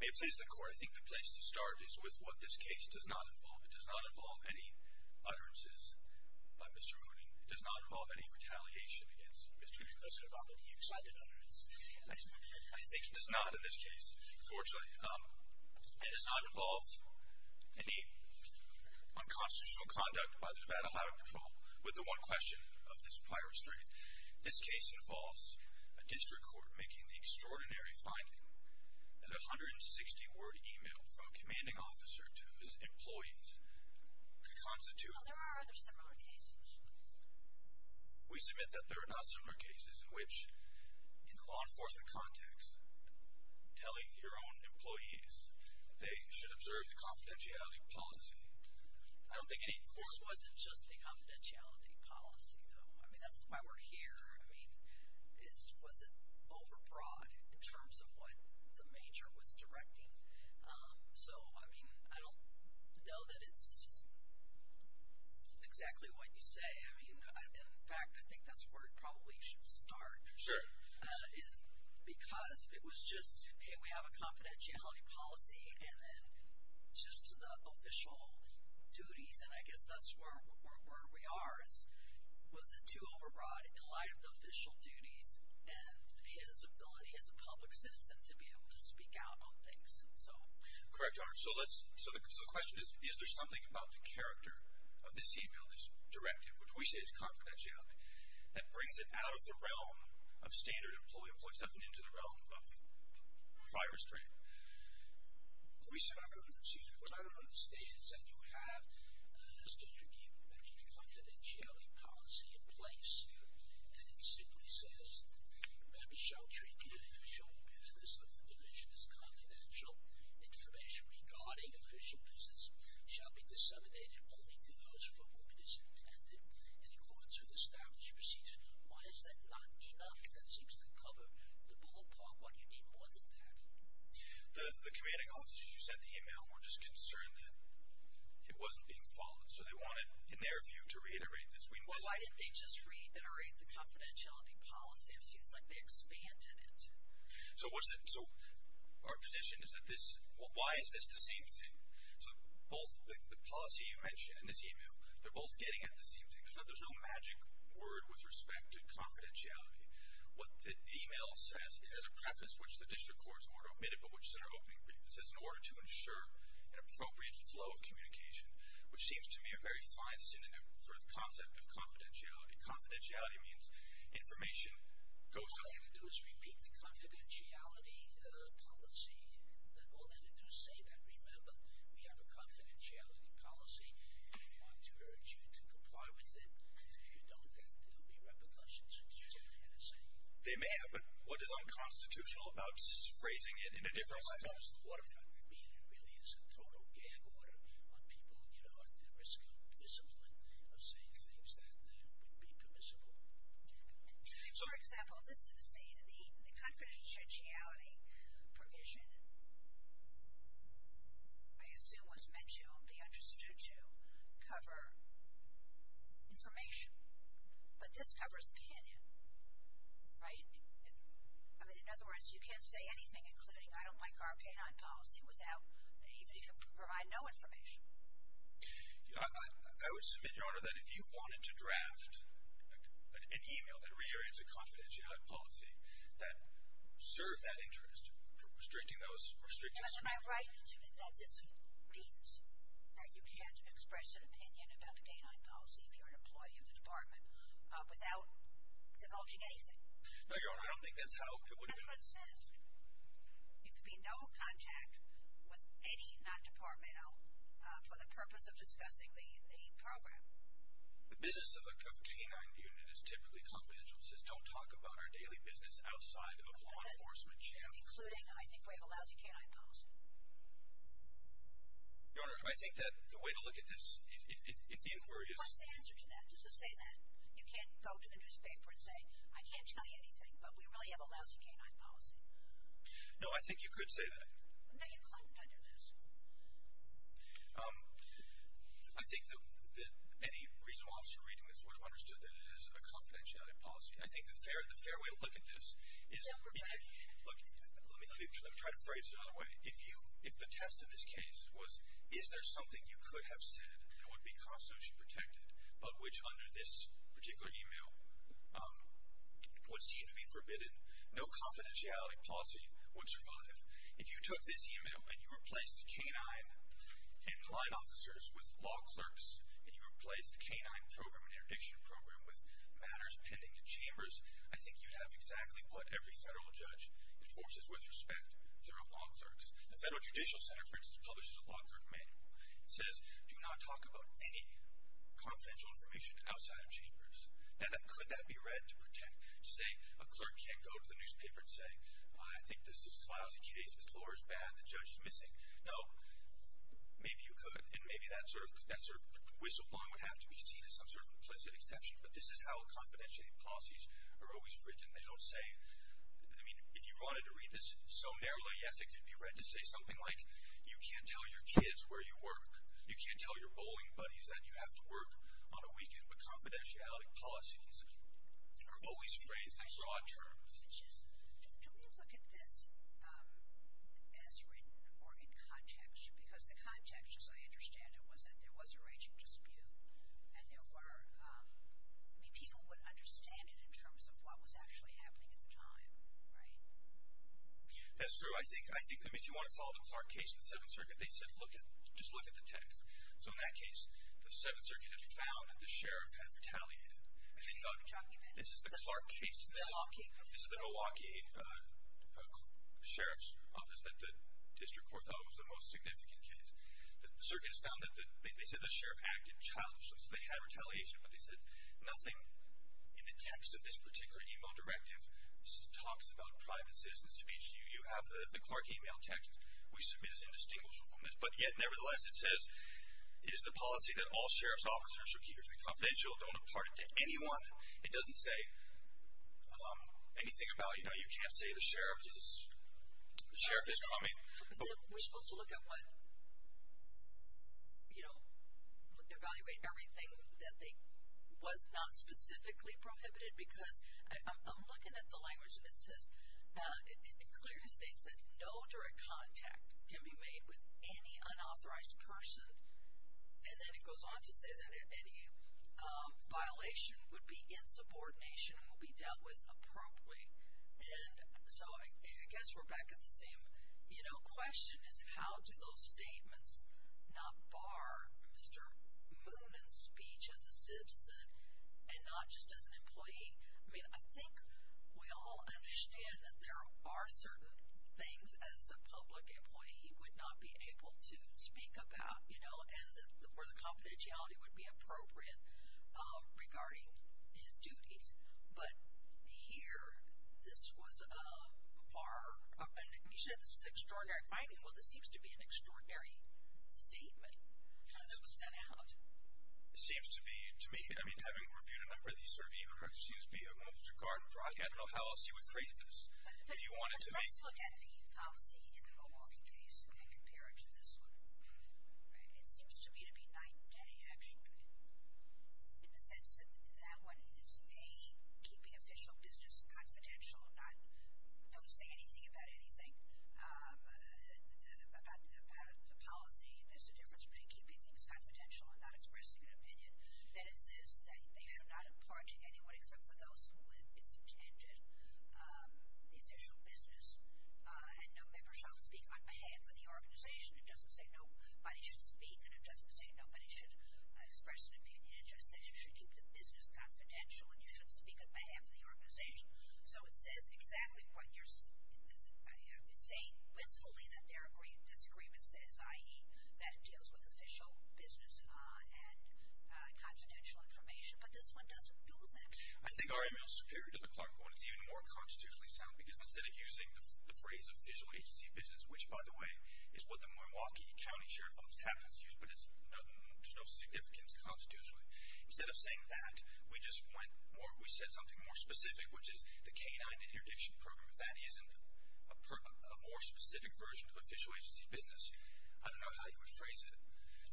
May it please the Court, I think the place to start is with what this case does not involve. It does not involve any utterances by Mr. Moonin. It does not involve any retaliation against Mr. Moonin. It does not involve any excited utterances. It is about allowing control with the one question of this prior restraint. This case involves a district court making the extraordinary finding that a 160-word email from a commanding officer to his employees could constitute... Well, there are other similar cases. We submit that there are not similar cases in which, in the law enforcement context, telling your own employees they should observe the confidentiality policy. This wasn't just the confidentiality policy, though. I mean, that's why we're here. I mean, was it overbroad in terms of what the major was directing? So, I mean, I don't know that it's exactly what you say. I mean, in fact, I think that's where it probably should start. Sure. Because if it was just, hey, we have a confidentiality policy, and then just the official duties, and I guess that's where we are, was it too overbroad in light of the official duties and his ability as a public citizen to be able to speak out on things? Correct, Your Honor. So the question is, is there something about the character of this email, this directive, which we say is confidentiality, that brings it out of the realm of standard employee employee stuff and into the realm of prior restraint? What I don't understand is that you have a confidentiality policy in place, and it simply says, members shall treat the official business of the division as confidential. Information regarding official business shall be disseminated only to those for whom it is intended, and in quotes of the established proceeds. Why is that not enough? That seems to cover the ballpark. Why do you need more than that? The commanding officers who sent the email were just concerned that it wasn't being followed, so they wanted, in their view, to reiterate this. Well, why didn't they just reiterate the confidentiality policy? It seems like they expanded it. So our position is that this, why is this the same thing? So both the policy you mentioned and this email, they're both getting at the same thing. There's no magic word with respect to confidentiality. What the email says, it has a preface which the district courts were to omit it, but which is in our opening brief. It says, in order to ensure an appropriate flow of communication, which seems to me a very fine synonym for the concept of confidentiality. Confidentiality means information goes to them. All they have to do is repeat the confidentiality policy. All they have to do is say that. Remember, we have a confidentiality policy, and we want to urge you to comply with it. And if you don't, there will be repercussions if you do that. They may have, but what is unconstitutional about phrasing it in a different way? It really is the total gag order on people, you know, For example, the confidentiality provision, I assume, was meant to be understood to cover information. But this covers opinion, right? I mean, in other words, you can't say anything, including I don't like our canine policy, even if you provide no information. I would submit, Your Honor, that if you wanted to draft an email that reiterates a confidentiality policy that served that interest, restricting those, restricting Because am I right that this means that you can't express an opinion about the canine policy if you're an employee of the department without divulging anything? No, Your Honor, I don't think that's how it would go. That's what it says. There could be no contact with any non-departmental for the purpose of discussing the program. The business of a canine unit is typically confidential. It says don't talk about our daily business outside of law enforcement channels. Including I think we have a lousy canine policy. Your Honor, I think that the way to look at this, if the inquiry is What's the answer to that? Just to say that you can't go to the newspaper and say, I can't tell you anything, but we really have a lousy canine policy. No, I think you could say that. No, you couldn't under this. I think that any regional officer reading this would have understood that it is a confidentiality policy. I think the fair way to look at this is Let me try to phrase it another way. If the test in this case was, is there something you could have said that would be constitutionally protected, but which under this particular email would seem to be forbidden. No confidentiality policy would survive. If you took this email and you replaced canine and blind officers with law clerks and you replaced canine program and interdiction program with matters pending in chambers I think you'd have exactly what every federal judge enforces with respect. They're all law clerks. The Federal Judicial Center, for instance, publishes a law clerk manual. It says, do not talk about any confidential information outside of chambers. Now, could that be read to say a clerk can't go to the newspaper and say, I think this is a lousy case, this law is bad, the judge is missing. No, maybe you could and maybe that sort of whistleblown would have to be seen as some sort of implicit exception, but this is how confidentiality policies are always written. They don't say, I mean, if you wanted to read this so narrowly, I guess it could be read to say something like, you can't tell your kids where you work. You can't tell your bowling buddies that you have to work on a weekend, but confidentiality policies are always phrased in broad terms. Don't you look at this as written or in context? Because the context, as I understand it, was that there was a raging dispute and people would understand it in terms of what was actually happening at the time, right? That's true. I think that if you want to follow the Clark case in the Seventh Circuit, they said, just look at the text. So in that case, the Seventh Circuit had found that the sheriff had retaliated. And they thought, this is the Clark case, this is the Milwaukee Sheriff's Office that the district court thought was the most significant case. The circuit has found that, they said the sheriff acted childishly, so they had retaliation, but they said nothing in the text of this particular email directive talks about private citizen speech. You have the Clark email text. We submit as indistinguishable from this. But yet, nevertheless, it says, it is the policy that all sheriff's officers are to be confidential. Don't impart it to anyone. It doesn't say anything about, you know, you can't say the sheriff is coming. We're supposed to look at what, you know, evaluate everything that was not specifically prohibited because I'm looking at the language and it says, it clearly states that no direct contact can be made with any unauthorized person. And then it goes on to say that any violation would be in subordination and will be dealt with appropriately. And so I guess we're back at the same, you know, question is how do those statements not bar Mr. Moonen's speech as a citizen and not just as an employee? I mean, I think we all understand that there are certain things as a public employee he would not be able to speak about, you know, and where the confidentiality would be appropriate regarding his duties. But here, this was a bar. And you said this is extraordinary. I mean, well, this seems to be an extraordinary statement that was sent out. It seems to be, to me, I mean, having reviewed a number of these surveys, it seems to be a monster card. I don't know how else you would phrase this. Let's look at the policy in the Milwaukee case and compare it to this one. It seems to me to be night and day, actually, in the sense that that one is, A, keeping official business confidential, don't say anything about anything about the policy. B, there's a difference between keeping things confidential and not expressing an opinion. Then it says that they should not impart to anyone except for those who it's intended, the official business, and no member shall speak on behalf of the organization. It doesn't say nobody should speak, and it doesn't say nobody should express an opinion. It just says you should keep the business confidential and you shouldn't speak on behalf of the organization. So it says exactly what you're saying, wistfully, that this agreement says, i.e., that it deals with official business and confidential information, but this one doesn't do that. I think our email's superior to the Clark one. It's even more constitutionally sound because instead of using the phrase official agency business, which, by the way, is what the Milwaukee County Sheriff's Office happens to use, but there's no significance constitutionally. Instead of saying that, we just went more, we said something more specific, which is the K-9 interdiction program. If that isn't a more specific version of official agency business, I don't know how you would phrase it.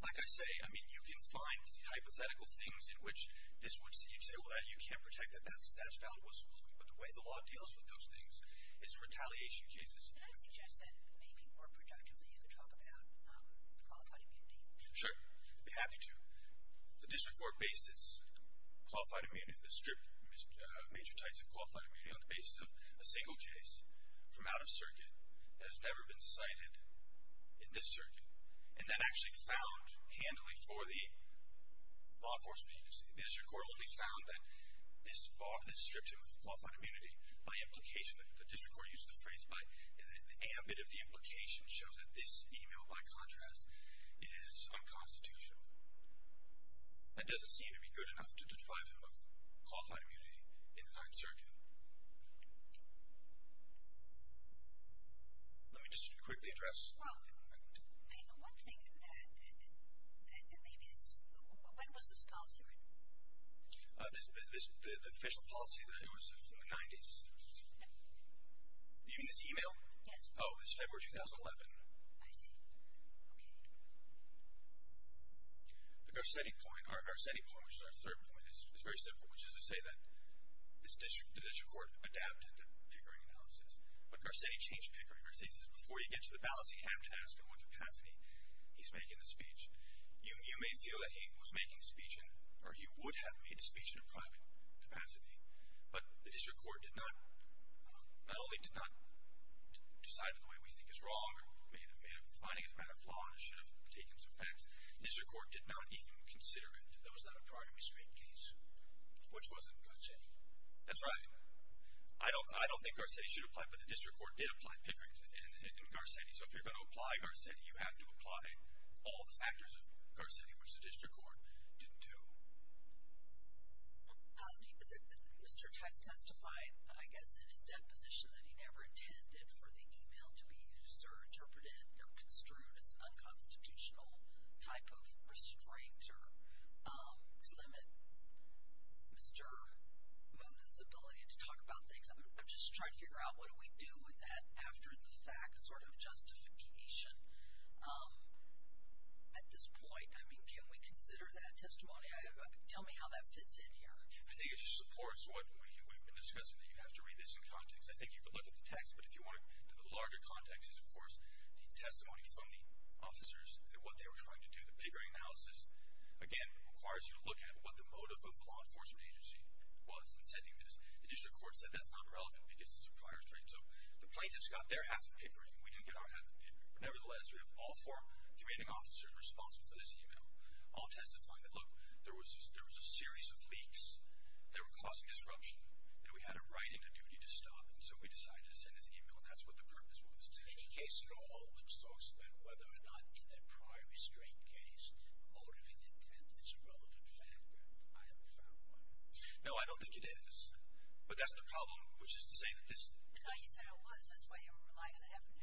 Like I say, I mean, you can find hypothetical things in which this would say, well, you can't protect that. That's valid wistfully. But the way the law deals with those things is in retaliation cases. Can I suggest that maybe more productively you could talk about qualified immunity? Sure. I'd be happy to. The district court based its qualified immunity, major types of qualified immunity on the basis of a single case from out of circuit that has never been cited in this circuit, and then actually found handily for the law enforcement agency. The district court only found that this stripped him of qualified immunity by implication. The district court used the phrase by the ambit of the implication shows that this email, by contrast, is unconstitutional. That doesn't seem to be good enough to deprive him of qualified immunity in the second circuit. Let me just quickly address. Well, the one thing that maybe is, when was this policy written? The official policy that it was in the 90s. You mean this email? Yes. Oh, it's February 2011. I see. Okay. The Garcetti point, our Garcetti point, which is our third point, is very simple, which is to say that the district court adapted the Pickering analysis, but Garcetti changed Pickering. Garcetti says before you get to the ballots, you have to ask in what capacity he's making the speech. You may feel that he was making a speech, or he would have made a speech in a private capacity, but the district court not only did not decide in the way we think is wrong, finding his amount of flaws should have taken some facts. The district court did not even consider it. That was not a prior restraint case. Which wasn't Garcetti. That's right. I don't think Garcetti should apply, but the district court did apply Pickering in Garcetti. So if you're going to apply Garcetti, you have to apply all the factors of Garcetti, which the district court didn't do. Mr. Tice testified, I guess, in his deposition that he never intended for the email to be used or interpreted or construed as unconstitutional type of restraint or to limit Mr. Monin's ability to talk about things. I'm just trying to figure out what do we do with that after the fact, sort of justification. At this point, I mean, can we consider that testimony? Tell me how that fits in here. I think it just supports what we've been discussing. You have to read this in context. I think you can look at the text, but if you want to, the larger context is, of course, the testimony from the officers and what they were trying to do. The Pickering analysis, again, requires you to look at what the motive of the law enforcement agency was in sending this. The district court said that's not relevant because it's a prior restraint. So the plaintiffs got their half of Pickering. We didn't get our half of Pickering. Nevertheless, we have all four commanding officers responsible for this email, all testifying that, look, there was a series of leaks that were causing disruption that we had a right and a duty to stop. And so we decided to send this email. And that's what the purpose was. Is there any case in all that talks about whether or not in that prior restraint case, motiving intent is a relevant factor? I haven't found one. No, I don't think it is. But that's the problem, which is to say that this. No, you said it was. That's why you were relying on the evidence.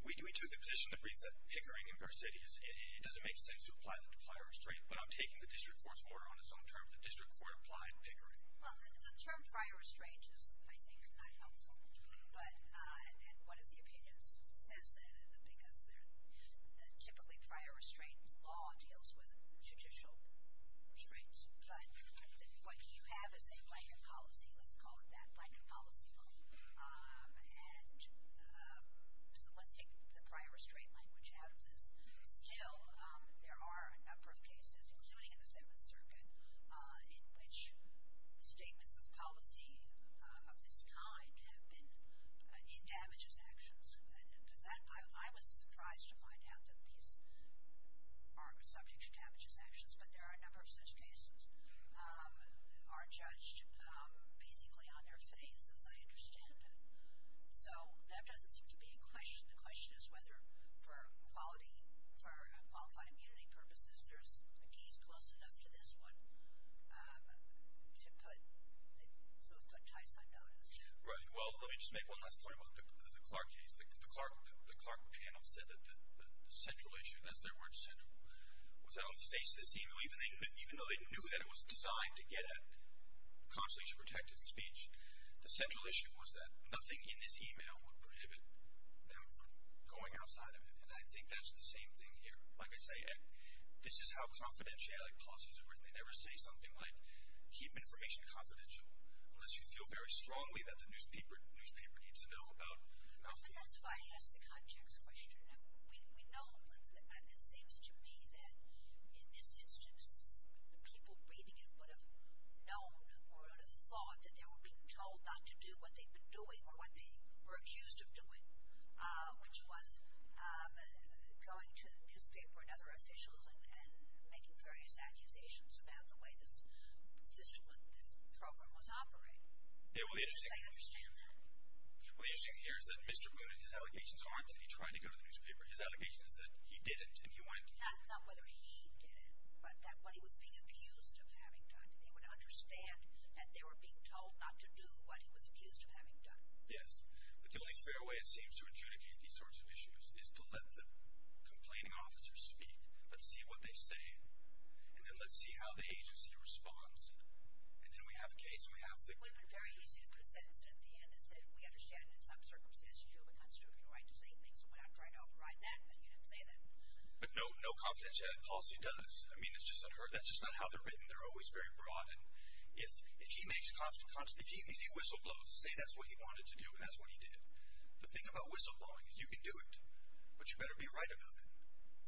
We took the position to brief that Pickering in Pear City, it doesn't make sense to apply the prior restraint, but I'm taking the district court's order on its own terms. The district court applied Pickering. Well, the term prior restraint is, I think, not helpful. But and one of the opinions says that because they're typically prior restraint law deals with judicial restraints. But what you have is a blanket policy. Let's call it that blanket policy law. And so let's take the prior restraint language out of this. Still, there are a number of cases, including in the Seventh Circuit, in which statements of policy of this kind have been in damages actions. I was surprised to find out that these are subject to damages actions, but there are a number of such cases are judged basically on their face, as I understand it. So that doesn't seem to be a question. The question is whether for quality, for qualified immunity purposes, there's a case close enough to this one to put Tyson on it. Right. Well, let me just make one last point about the Clark case. The Clark panel said that the central issue, that's their word, central, was that on the face of this email, even though they knew that it was designed to get at constitutional protected speech, the central issue was that nothing in this email would prohibit them from going outside of it. And I think that's the same thing here. Like I say, this is how confidentiality policies are written. They never say something like, keep information confidential, unless you feel very strongly that the newspaper needs to know about it. That's why I asked the context question. We know that it seems to me that in this instance, the people reading it would have known or would have thought that they were being told not to do what they'd been doing or what they were accused of doing, which was going to the newspaper and other officials and making various accusations about the way this system, this program was operated. Yeah, well, the interesting thing here is that Mr. Moon and his allegations aren't that he tried to go to the newspaper. His allegation is that he didn't and he went. Not whether he did it, but that when he was being accused of having done it, he would understand that they were being told not to do what he was accused of having done. Yes, but the only fair way, it seems, to adjudicate these sorts of issues is to let the complaining officers speak. Let's see what they say. And then let's see how the agency responds. And then we have a case and we have the... It would have been very easy to put a sentence in at the end that said we understand in some circumstances you have a constitutional right to say things and we're not trying to override that and that you didn't say that. But no confidentiality policy does. I mean, that's just not how they're written. They're always very broad. And if he makes constant... If he whistleblows to say that's what he wanted to do and that's what he did, the thing about whistleblowing is you can do it, but you better be right about it.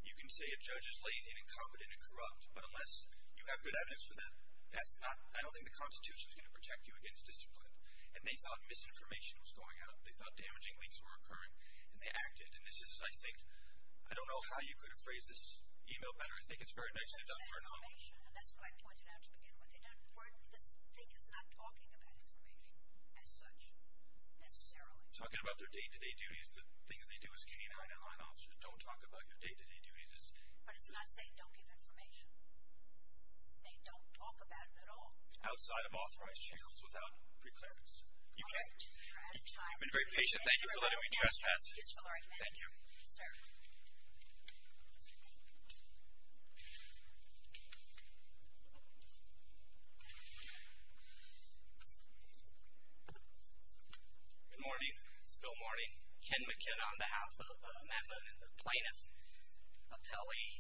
You can say a judge is lazy and incompetent and corrupt, but unless you have good evidence for that, that's not... I don't think the Constitution is going to protect you against discipline. And they thought misinformation was going out. They thought damaging leaks were occurring. And they acted. And this is, I think... I don't know how you could have phrased this email better. I think it's very nicely done. And that's why I pointed out to begin with, this thing is not talking about information as such, necessarily. Talking about their day-to-day duties, the things they do as county and highland officers, don't talk about your day-to-day duties. But it's not saying don't give information. They don't talk about it at all. Outside of authorized shields without preclearance. You've been a great patient. Thank you for letting me trespass. Thank you. Sir. Thank you. Good morning. Still morning. Ken McKenna on behalf of Madeline and the plaintiff. Appellee.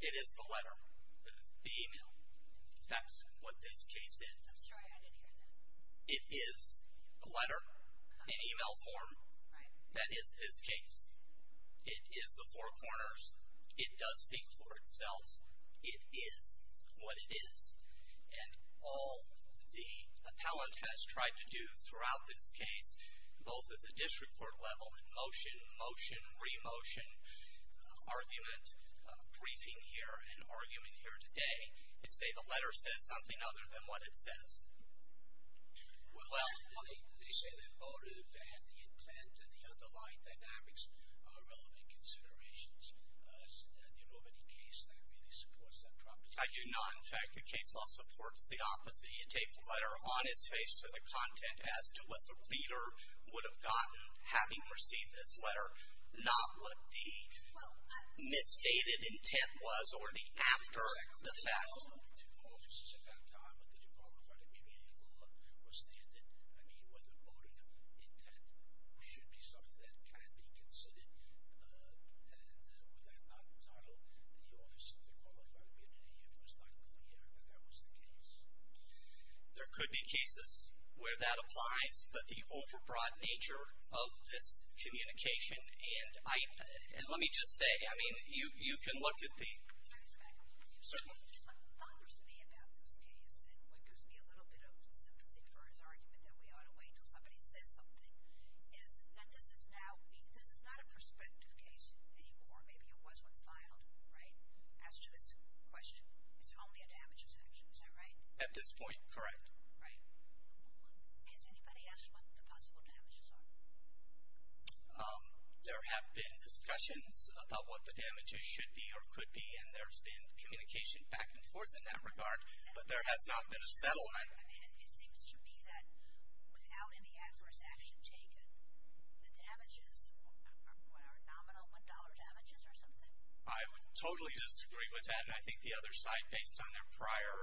It is the letter. The email. That's what this case is. I'm sorry, I didn't hear that. It is a letter. An email form. Right. That is this case. It is the Four Corners. It does speak for itself. It is what it is. And all the appellant has tried to do throughout this case, both at the district court level, in motion, motion, re-motion, argument, briefing here and argument here today, is say the letter says something other than what it says. Well, they say the motive and the intent and the underlying dynamics are relevant considerations. Do you know of any case that really supports that proposition? I do not. In fact, the case law supports the opposite. You take the letter on its face for the content as to what the reader would have gotten having received this letter, not what the misstated intent was or the after the fact. I don't know if it was at that time that you qualified it, maybe in law or standard. I mean, whether motive or intent should be something that can be considered. And with that not entitled, the Office of Dequalifiability was not clear that that was the case. There could be cases where that applies, but the overbroad nature of this communication and let me just say, I mean, you can look at the I'm going to go back a little bit. So what bothers me about this case, and what gives me a little bit of sympathy for his argument that we ought to wait until somebody says something, is that this is not a prospective case anymore. Maybe it was when filed, right? As to this question, it's only a damages action. Is that right? At this point, correct. Right. Has anybody asked what the possible damages are? There have been discussions about what the damages should be or could be, and there's been communication back and forth in that regard, but there has not been a settlement. It seems to me that without any adverse action taken, the damages are nominal $1 damages or something. I totally disagree with that, and I think the other side, based on their prior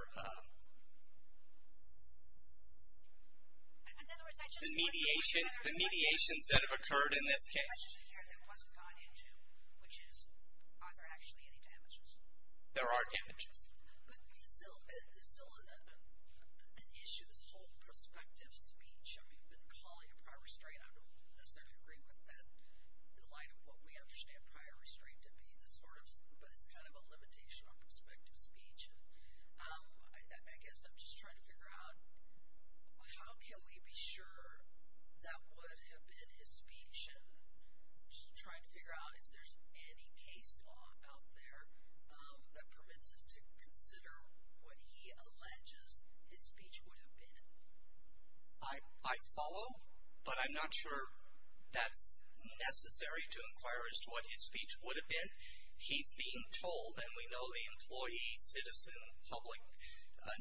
the mediations that have occurred in this case. The question here that wasn't brought into, which is, are there actually any damages? There are damages. But it's still an issue, this whole prospective speech. I mean, we've been calling it prior restraint. I don't necessarily agree with that in light of what we understand prior restraint to be, but it's kind of a limitation on prospective speech. I guess I'm just trying to figure out how can we be sure that would have been his speech and trying to figure out if there's any case law out there that permits us to consider what he alleges his speech would have been. I'd follow, but I'm not sure that's necessary to inquire as to what his speech would have been. He's being told, and we know the employee, citizen, public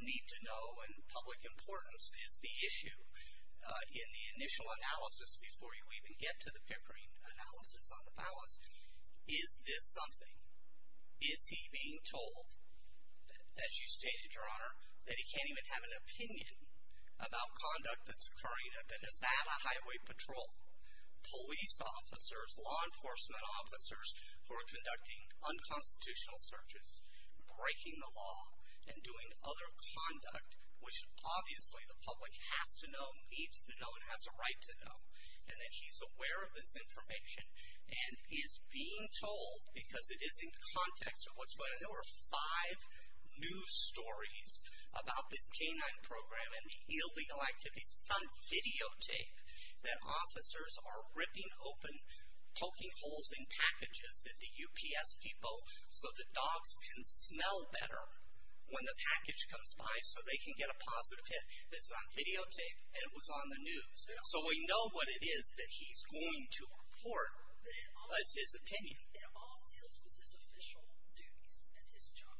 need to know and public importance is the issue in the initial analysis before you even get to the piperine analysis on the balance. Is this something? Is he being told, as you stated, Your Honor, that he can't even have an opinion about conduct that's occurring at the Nevada Highway Patrol? Police officers, law enforcement officers, who are conducting unconstitutional searches, breaking the law and doing other conduct, which obviously the public has to know, needs to know, and has a right to know, and that he's aware of this information and is being told, because it is in context of what's going on. There were five news stories about this canine program and illegal activities. It's on videotape that officers are ripping open, poking holes in packages at the UPS Depot so that dogs can smell better when the package comes by so they can get a positive hit. It's on videotape and it was on the news. So we know what it is that he's going to report as his opinion. It all deals with his official duties and his job.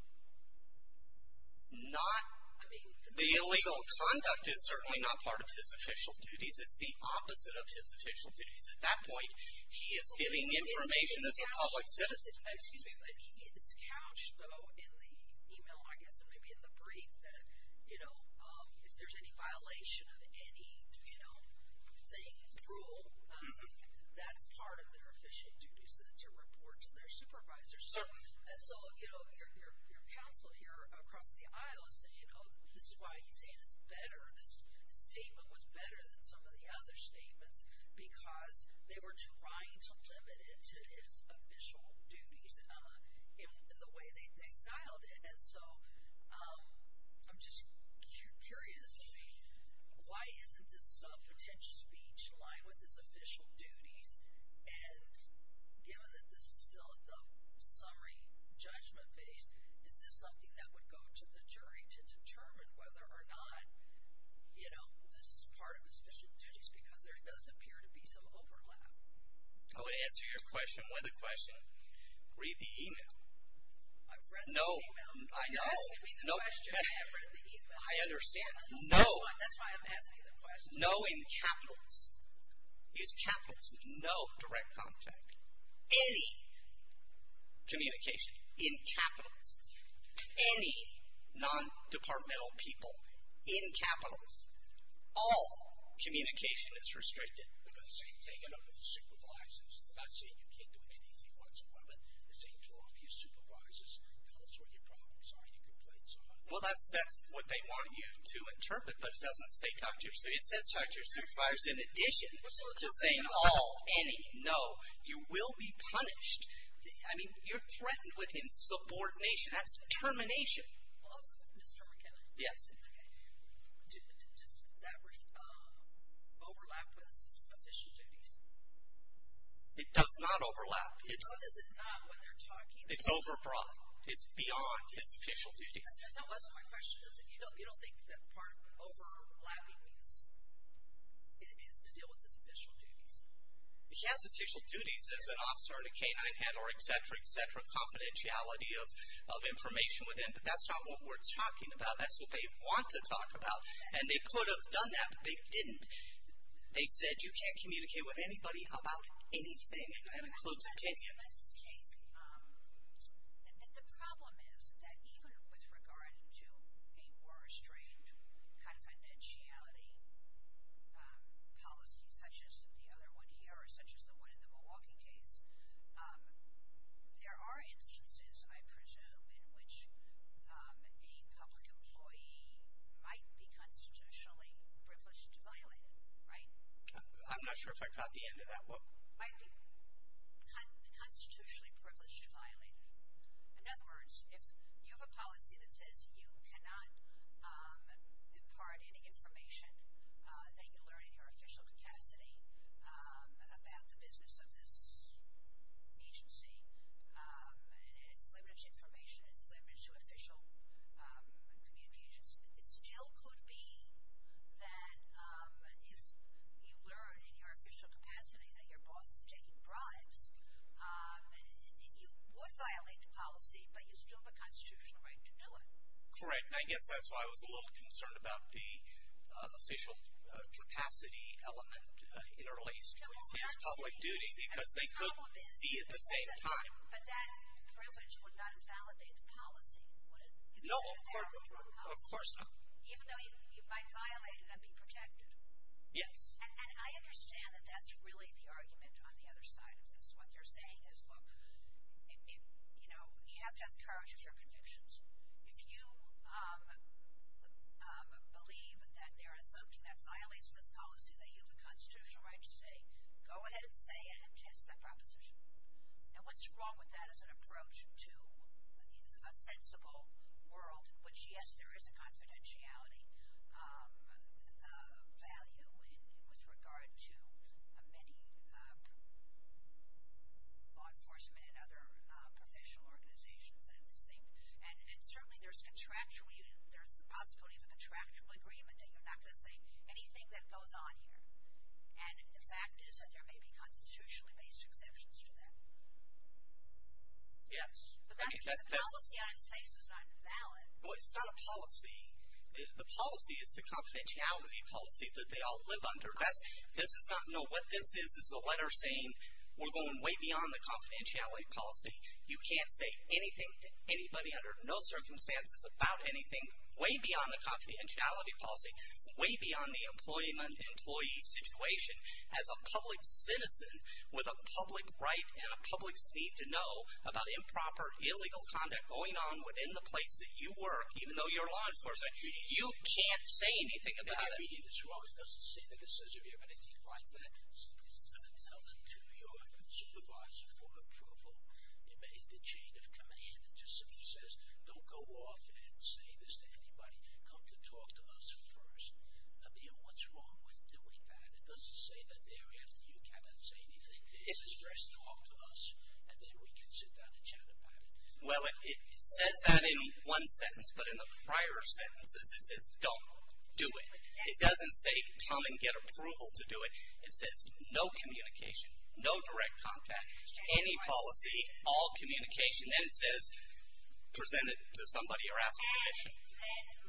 The illegal conduct is certainly not part of his official duties. It's the opposite of his official duties. At that point, he is giving information as a public citizen. It's couched, though, in the e-mail, I guess, and maybe in the brief that if there's any violation of any rule, that's part of their official duties to report to their supervisors. So your counsel here across the aisle is saying, oh, this is why he's saying it's better, this statement was better than some of the other statements, because they were trying to limit it to his official duties in the way they styled it. And so I'm just curious, why isn't this subpetentious speech aligned with his official duties? And given that this is still at the summary judgment phase, is this something that would go to the jury to determine whether or not, you know, this is part of his official duties because there does appear to be some overlap? I would answer your question with a question. Read the e-mail. I've read the e-mail. No, I know. You're asking me the question. I have read the e-mail. I understand. No. That's why I'm asking the question. No in capitals. Use capitals. No direct contact. Any communication in capitals. Any non-departmental people in capitals. All communication is restricted. But they're saying take a note of the supervises. They're not saying you can't do anything whatsoever. They're saying to all of your supervisors, tell us what your problems are, your complaints are. Well, that's what they want you to interpret, but it doesn't say talk to your supervisor. It says talk to your supervisors in addition. Just saying all, any, no. You will be punished. I mean, you're threatened with insubordination. That's termination. Mr. McKenna. Yes. Does that overlap with official duties? It does not overlap. What does it not when they're talking? It's over brought. It's beyond his official duties. That wasn't my question. You don't think that part of overlapping is to deal with his official duties? He has official duties as an officer and a K-9 head or et cetera, et cetera, confidentiality of information with him, but that's not what we're talking about. That's what they want to talk about. And they could have done that, but they didn't. They said you can't communicate with anybody about anything, and that includes McKenna. Let's take, the problem is that even with regard to a more estranged confidentiality policy, such as the other one here or such as the one in the Milwaukee case, there are instances, I presume, in which a public employee might be constitutionally privileged to violate it, right? I'm not sure if I caught the end of that. Might be constitutionally privileged to violate it. In other words, if you have a policy that says you cannot impart any information that you learn in your official capacity about the business of this agency, and it's limited to information, it's limited to official communications, it still could be that if you learn in your official capacity that your boss is taking bribes, you would violate the policy, but you still have a constitutional right to do it. Correct, and I guess that's why I was a little concerned about the official capacity element in relation to his public duty, because they could be at the same time. But that privilege would not invalidate the policy, would it? No, of course not. Even though you might violate it and be protected? Yes. And I understand that that's really the argument on the other side of this. What they're saying is, look, you have to have the courage of your convictions. If you believe that there is something that violates this policy, that you have a constitutional right to say, go ahead and say it and test that proposition. Now, what's wrong with that as an approach to a sensible world, which, yes, there is a confidentiality value with regard to many law enforcement and other professional organizations. And certainly there's the possibility of a contractual agreement that you're not going to say anything that goes on here. And the fact is that there may be constitutionally-based exceptions to that. Yes. Because the policy on its face is not valid. Well, it's not a policy. The policy is the confidentiality policy that they all live under. No, what this is is a letter saying we're going way beyond the confidentiality policy. You can't say anything to anybody under no circumstances about anything, way beyond the confidentiality policy, way beyond the employment employee situation. As a public citizen with a public right and a public's need to know about improper, illegal conduct going on within the place that you work, even though you're law enforcement, you can't say anything about it. It doesn't say that it says if you have anything like that. It doesn't tell them to your supervisor for approval. It made a chain of command. It just simply says don't go off and say this to anybody. Come to talk to us first. I mean, what's wrong with doing that? It doesn't say that thereafter you cannot say anything. It says first talk to us, and then we can sit down and chat about it. Well, it says that in one sentence, but in the prior sentences it says don't do it. It doesn't say come and get approval to do it. It says no communication, no direct contact, any policy, all communication. Then it says present it to somebody or ask for permission.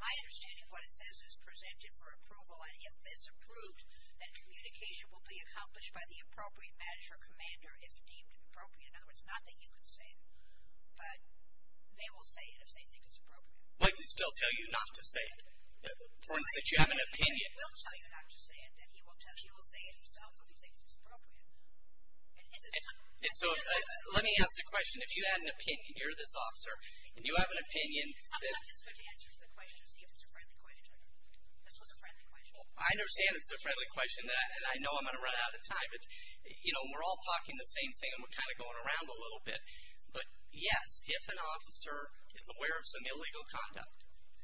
My understanding of what it says is present it for approval, and if it's approved, then communication will be accomplished by the appropriate manager or commander if deemed appropriate. In other words, not that you can say it, but they will say it if they think it's appropriate. Why do they still tell you not to say it? For instance, if you have an opinion. They will tell you not to say it. He will say it himself if he thinks it's appropriate. And so let me ask the question. If you had an opinion, you're this officer, and you have an opinion. I'm not desperate to answer the question to see if it's a friendly question. This was a friendly question. I understand it's a friendly question, and I know I'm going to run out of time. We're all talking the same thing, and we're kind of going around a little bit. But, yes, if an officer is aware of some illegal conduct,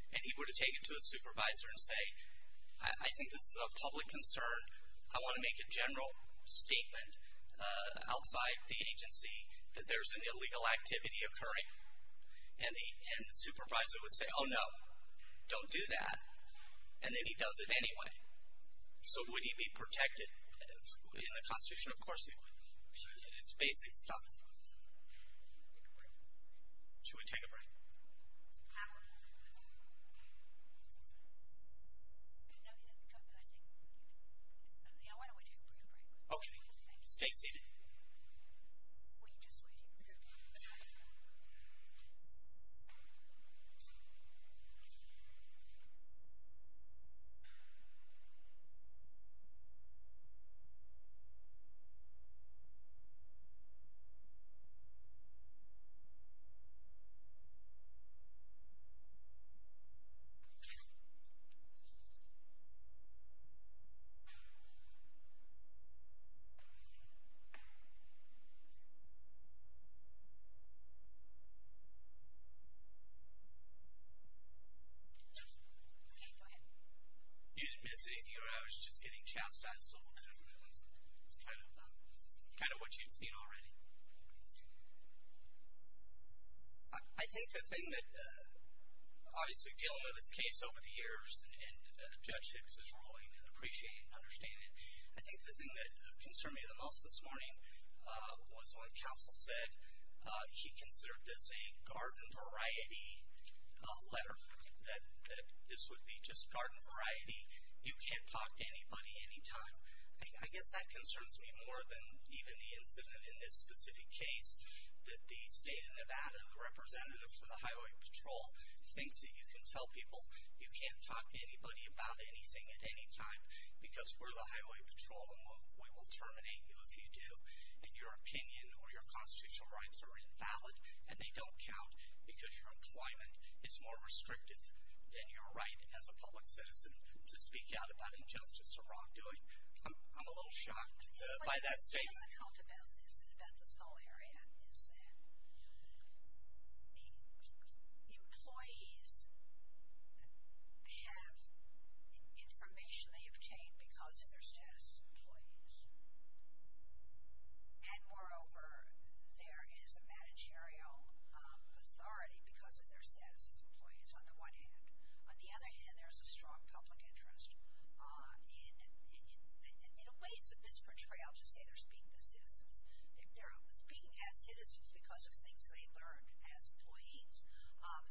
and he were to take it to a supervisor and say, I think this is a public concern. I want to make a general statement outside the agency that there's an illegal activity occurring. And the supervisor would say, oh, no, don't do that. And then he does it anyway. So would he be protected in the Constitution? Of course he would. It's basic stuff. Should we take a break? Okay. Stay seated. Okay. Okay, go ahead. You didn't miss anything, or I was just getting chastised a little bit. It was kind of what you'd seen already. I think the thing that, obviously, dealing with this case over the years, and Judge Hicks is ruling and appreciating and understanding it, I think the thing that concerned me the most this morning was when counsel said he considered this a garden variety letter, that this would be just garden variety. You can't talk to anybody any time. I guess that concerns me more than even the incident in this specific case, that the state of Nevada, the representative for the Highway Patrol, thinks that you can tell people you can't talk to anybody about anything at any time because we're the Highway Patrol and we will terminate you if you do. And your opinion or your constitutional rights are invalid, and they don't count because your employment is more restrictive than your right as a public citizen to speak out about injustice or wrongdoing. I'm a little shocked by that statement. But the difficult about this and about this whole area is that and, moreover, there is a managerial authority because of their status as employees on the one hand. On the other hand, there's a strong public interest. In a way, it's a misportrayal to say they're speaking as citizens. They're speaking as citizens because of things they learned as employees.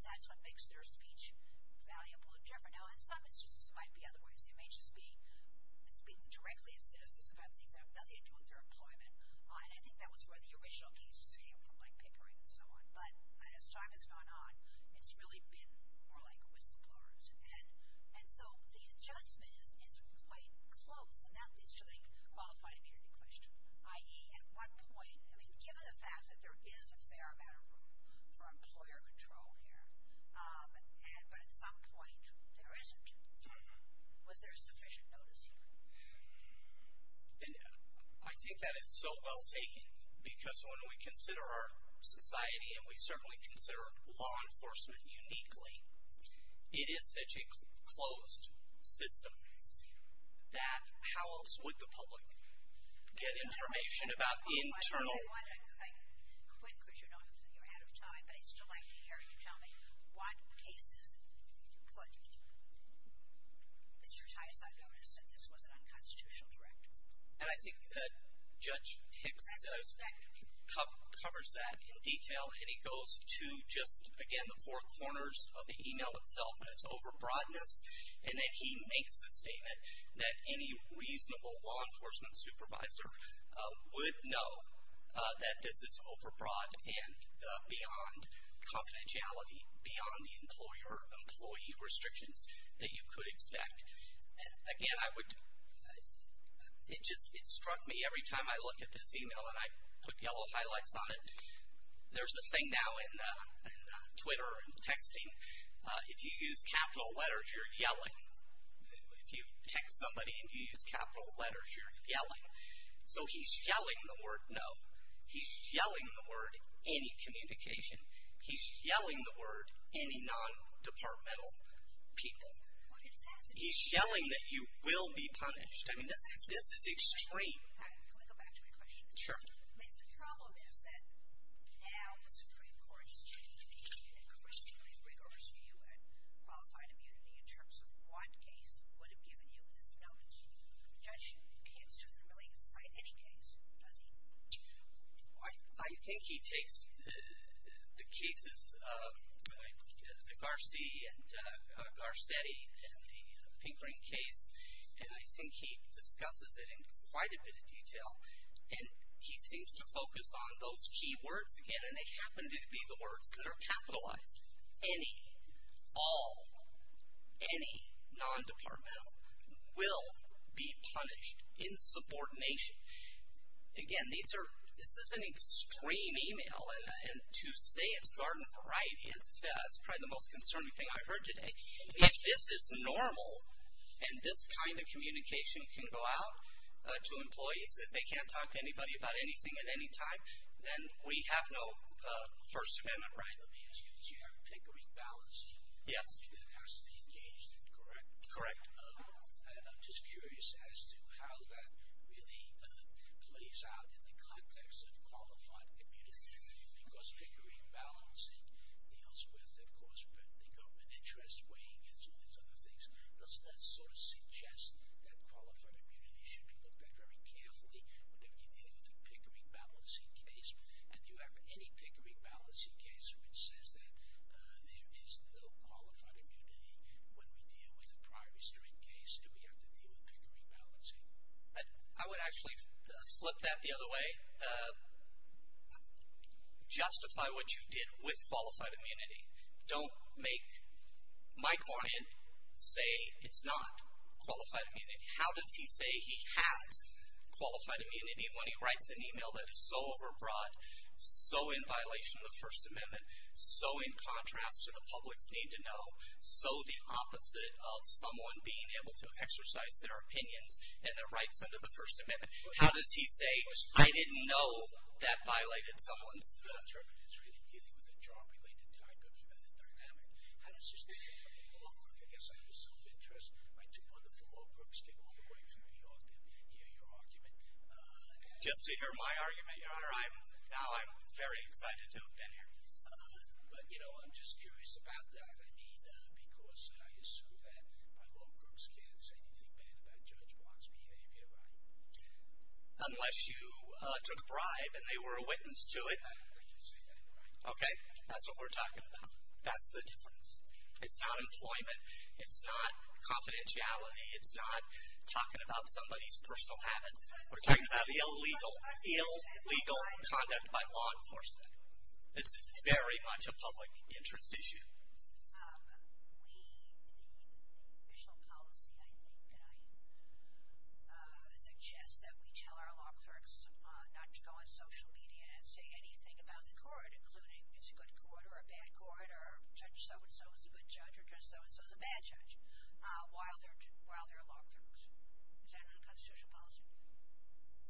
That's what makes their speech valuable and different. Now, in some instances, it might be otherwise. They may just be speaking directly as citizens about things that have nothing to do with their employment. And I think that was where the original cases came from, like Pickering and so on. But as time has gone on, it's really been more like whistleblowers. And so the adjustment is quite close, and that leads to the qualified immunity question, i.e., at what point—I mean, given the fact that there is a fair amount of room for employer control here, but at some point there isn't, was there sufficient notice here? And I think that is so well taken because when we consider our society, and we certainly consider law enforcement uniquely, it is such a closed system that how else would the public get information about the internal— I quit because you're out of time, but I'd still like to hear you tell me what cases you put. Mr. Tice, I noticed that this was an unconstitutional directive. And I think that Judge Hicks covers that in detail, and he goes to just, again, the four corners of the email itself and its overbroadness, and then he makes the statement that any reasonable law enforcement supervisor would know that this is overbroad and beyond confidentiality, beyond the employer-employee restrictions that you could expect. Again, I would—it just struck me every time I look at this email, and I put yellow highlights on it, there's a thing now in Twitter and texting. If you use capital letters, you're yelling. If you text somebody and you use capital letters, you're yelling. So he's yelling the word no. He's yelling the word any communication. He's yelling the word any non-departmental people. He's yelling that you will be punished. I mean, this is extreme. Can I go back to my question? Sure. I mean, the problem is that now the Supreme Court is taking an increasingly rigorous view at qualified immunity in terms of what case would have given you this knowledge. Judge Hicks doesn't really cite any case, does he? I think he takes the cases of the Garci and Garcetti and the Pinkring case, and I think he discusses it in quite a bit of detail. And he seems to focus on those key words again, and they happen to be the words that are capitalized. Any, all, any non-departmental will be punished in subordination. Again, these are, this is an extreme email. And to say it's garden variety is probably the most concerning thing I've heard today. If this is normal and this kind of communication can go out to employees, if they can't talk to anybody about anything at any time, then we have no First Amendment right. Let me ask you, you have Pinkering ballots. Yes. That has to be engaged, correct? Correct. And I'm just curious as to how that really plays out in the context of qualified immunity. Because Pinkering ballots deals with, of course, the government interest, weighing against all these other things. Does that sort of suggest that qualified immunity should be looked at very carefully whenever you're dealing with a Pinkering balancing case? And do you have any Pinkering balancing case which says that there is no qualified immunity when we deal with a prior restraint case? Do we have to deal with Pinkering balancing? I would actually flip that the other way. Justify what you did with qualified immunity. Don't make my client say it's not qualified immunity. How does he say he has qualified immunity when he writes an email that is so overbroad, so in violation of the First Amendment, so in contrast to the public's need to know, so the opposite of someone being able to exercise their opinions and their rights under the First Amendment? How does he say, I didn't know that violated someone's? The interpreter is really dealing with a job-related type of human dynamic. How does this differ from the law? I guess I have a self-interest. My two wonderful law groups came all the way from New York to hear your argument. Just to hear my argument, Your Honor, I'm very excited to have been here. But, you know, I'm just curious about that. I mean, because I assume that my law groups can't say anything bad about Judge Block's behavior, right? Unless you took a bribe and they were a witness to it. I'm not going to say that, Your Honor. Okay, that's what we're talking about. That's the difference. It's not employment. It's not confidentiality. It's not talking about somebody's personal habits. We're talking about illegal, illegal conduct by law enforcement. It's very much a public interest issue.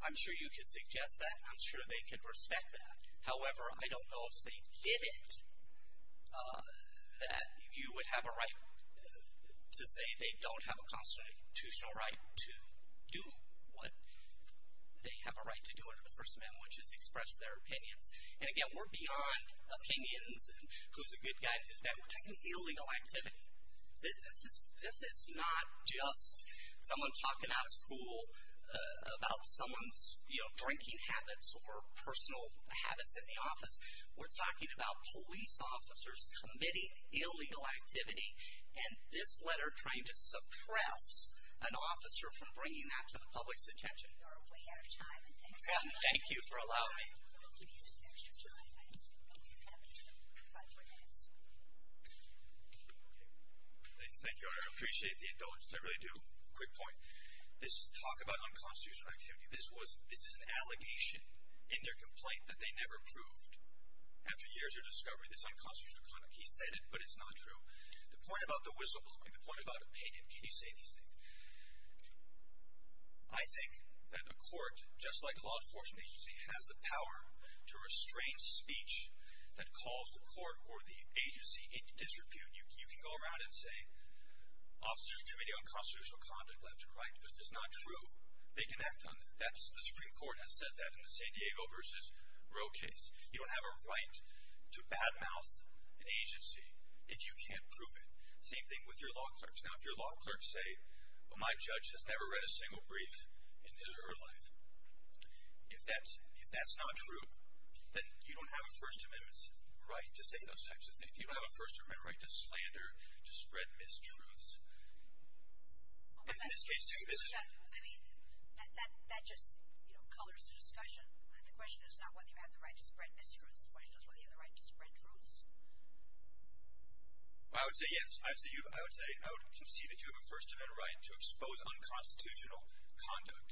I'm sure you could suggest that. I'm sure they could respect that. However, I don't know if they did it that you would have a right to say they don't have a constitutional right to do what they have a right to do under the First Amendment, which is express their opinions. And, again, we're beyond opinions and who's a good guy and who's bad. We're talking illegal activity. This is not just someone talking out of school about someone's drinking habits or personal habits in the office. We're talking about police officers committing illegal activity, and this letter trying to suppress an officer from bringing that to the public's attention. We are way out of time. Thank you for allowing me. Well, can you just give me a few more minutes? I'll get back to you in five, four minutes. Okay. Thank you, Honor. I appreciate the indulgence. I really do. Quick point. This talk about unconstitutional activity, this is an allegation in their complaint that they never proved. After years of discovery, this unconstitutional conduct, he said it, but it's not true. The point about the whistleblowing, the point about opinion, can you say these things? I think that a court, just like a law enforcement agency, has the power to restrain speech that calls the court or the agency into disrepute. You can go around and say, officers of the Committee on Constitutional Conduct, left and right, but if it's not true, they can act on it. The Supreme Court has said that in the San Diego v. Roe case. You don't have a right to badmouth an agency if you can't prove it. Same thing with your law clerks. Now, if your law clerks say, well, my judge has never read a single brief in his or her life, if that's not true, then you don't have a First Amendment's right to say those types of things. You don't have a First Amendment right to slander, to spread mistruths. In this case, too, this is. I mean, that just colors the discussion. The question is not whether you have the right to spread mistruths. The question is whether you have the right to spread truths. I would say yes. I would concede that you have a First Amendment right to expose unconstitutional conduct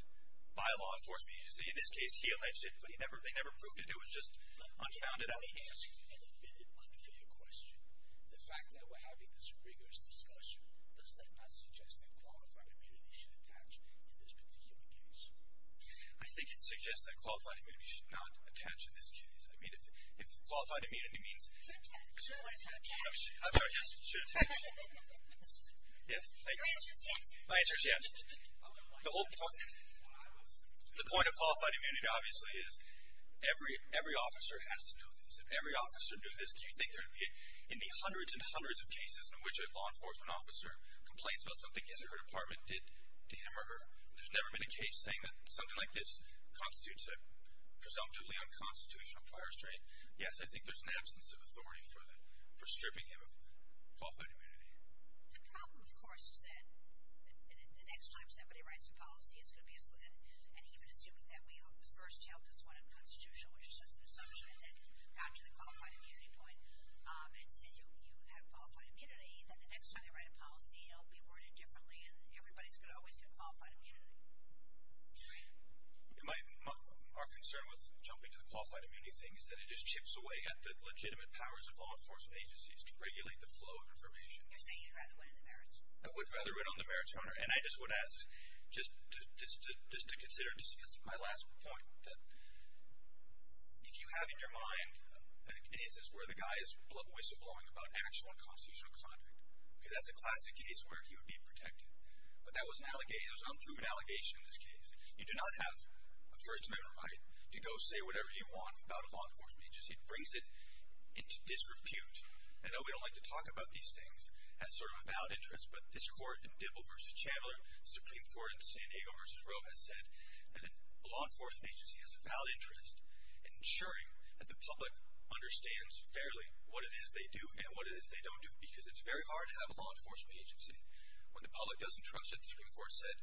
by law enforcement agencies. In this case, he alleged it, but they never proved it. It was just unfounded allegations. Let me ask an admitted unfair question. The fact that we're having this rigorous discussion, does that not suggest that qualified immunity should attach in this particular case? I think it suggests that qualified immunity should not attach in this case. I mean, if qualified immunity means… I'm sorry, yes, it should attach. Yes, thank you. Your answer is yes. My answer is yes. The point of qualified immunity, obviously, is every officer has to know this. If every officer knew this, do you think there would be hundreds and hundreds of cases in which a law enforcement officer complains about something his or her department did to him or her? There's never been a case saying that something like this constitutes a presumptively unconstitutional prior restraint. Yes, I think there's an absence of authority for stripping him of qualified immunity. The problem, of course, is that the next time somebody writes a policy, it's going to be a slip. And even assuming that we first held this one unconstitutional, which is just an assumption, and then got to the qualified immunity point and said you have qualified immunity, then the next time they write a policy, it'll be worded differently, and everybody's always going to get qualified immunity. Our concern with jumping to the qualified immunity thing is that it just chips away at the legitimate powers of law enforcement agencies to regulate the flow of information. You're saying you'd rather win on the merits? I would rather win on the merits, Your Honor. And I just would ask just to consider, just because of my last point, that if you have in your mind an instance where the guy is whistleblowing about actual unconstitutional conduct, that's a classic case where he would be protected. But that was an unproven allegation in this case. You do not have a First Amendment right to go say whatever you want about a law enforcement agency. It brings it into disrepute. I know we don't like to talk about these things as sort of a valid interest, but this Court in Dibble v. Chandler, Supreme Court in San Diego v. Roe, has said that a law enforcement agency has a valid interest in ensuring that the public understands fairly what it is they do and what it is they don't do, because it's very hard to have a law enforcement agency when the public doesn't trust it. The Supreme Court said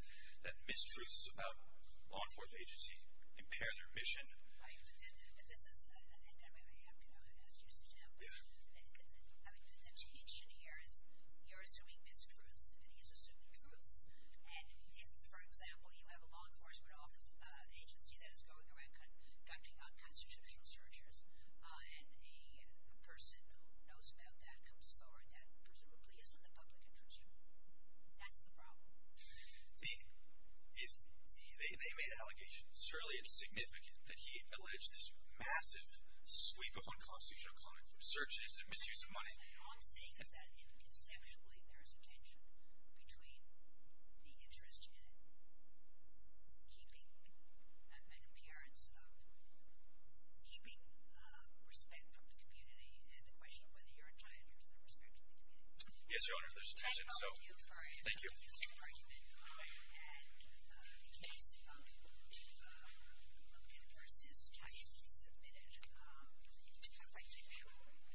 that mistruths about a law enforcement agency impair their mission. Right, but this is – and I'm going to ask you, Mr. Chandler. I mean, the tension here is you're assuming mistruths and he's assuming truths. And if, for example, you have a law enforcement agency that is going around conducting unconstitutional searches and a person who knows about that comes forward, that presumably isn't the public interest here. That's the problem. They made allegations, fairly insignificant, that he alleged this massive sweep of unconstitutional content from searches to misuse of money. All I'm saying is that, conceptually, there is a tension between the interest in it and keeping – an appearance of keeping respect from the community and the question of whether you're entitled to the respect of the community. Yes, Your Honor, there's a tension, so – Thank you. Thank you. Thank you. Thank you. Thank you. Thank you. Thank you. Thank you.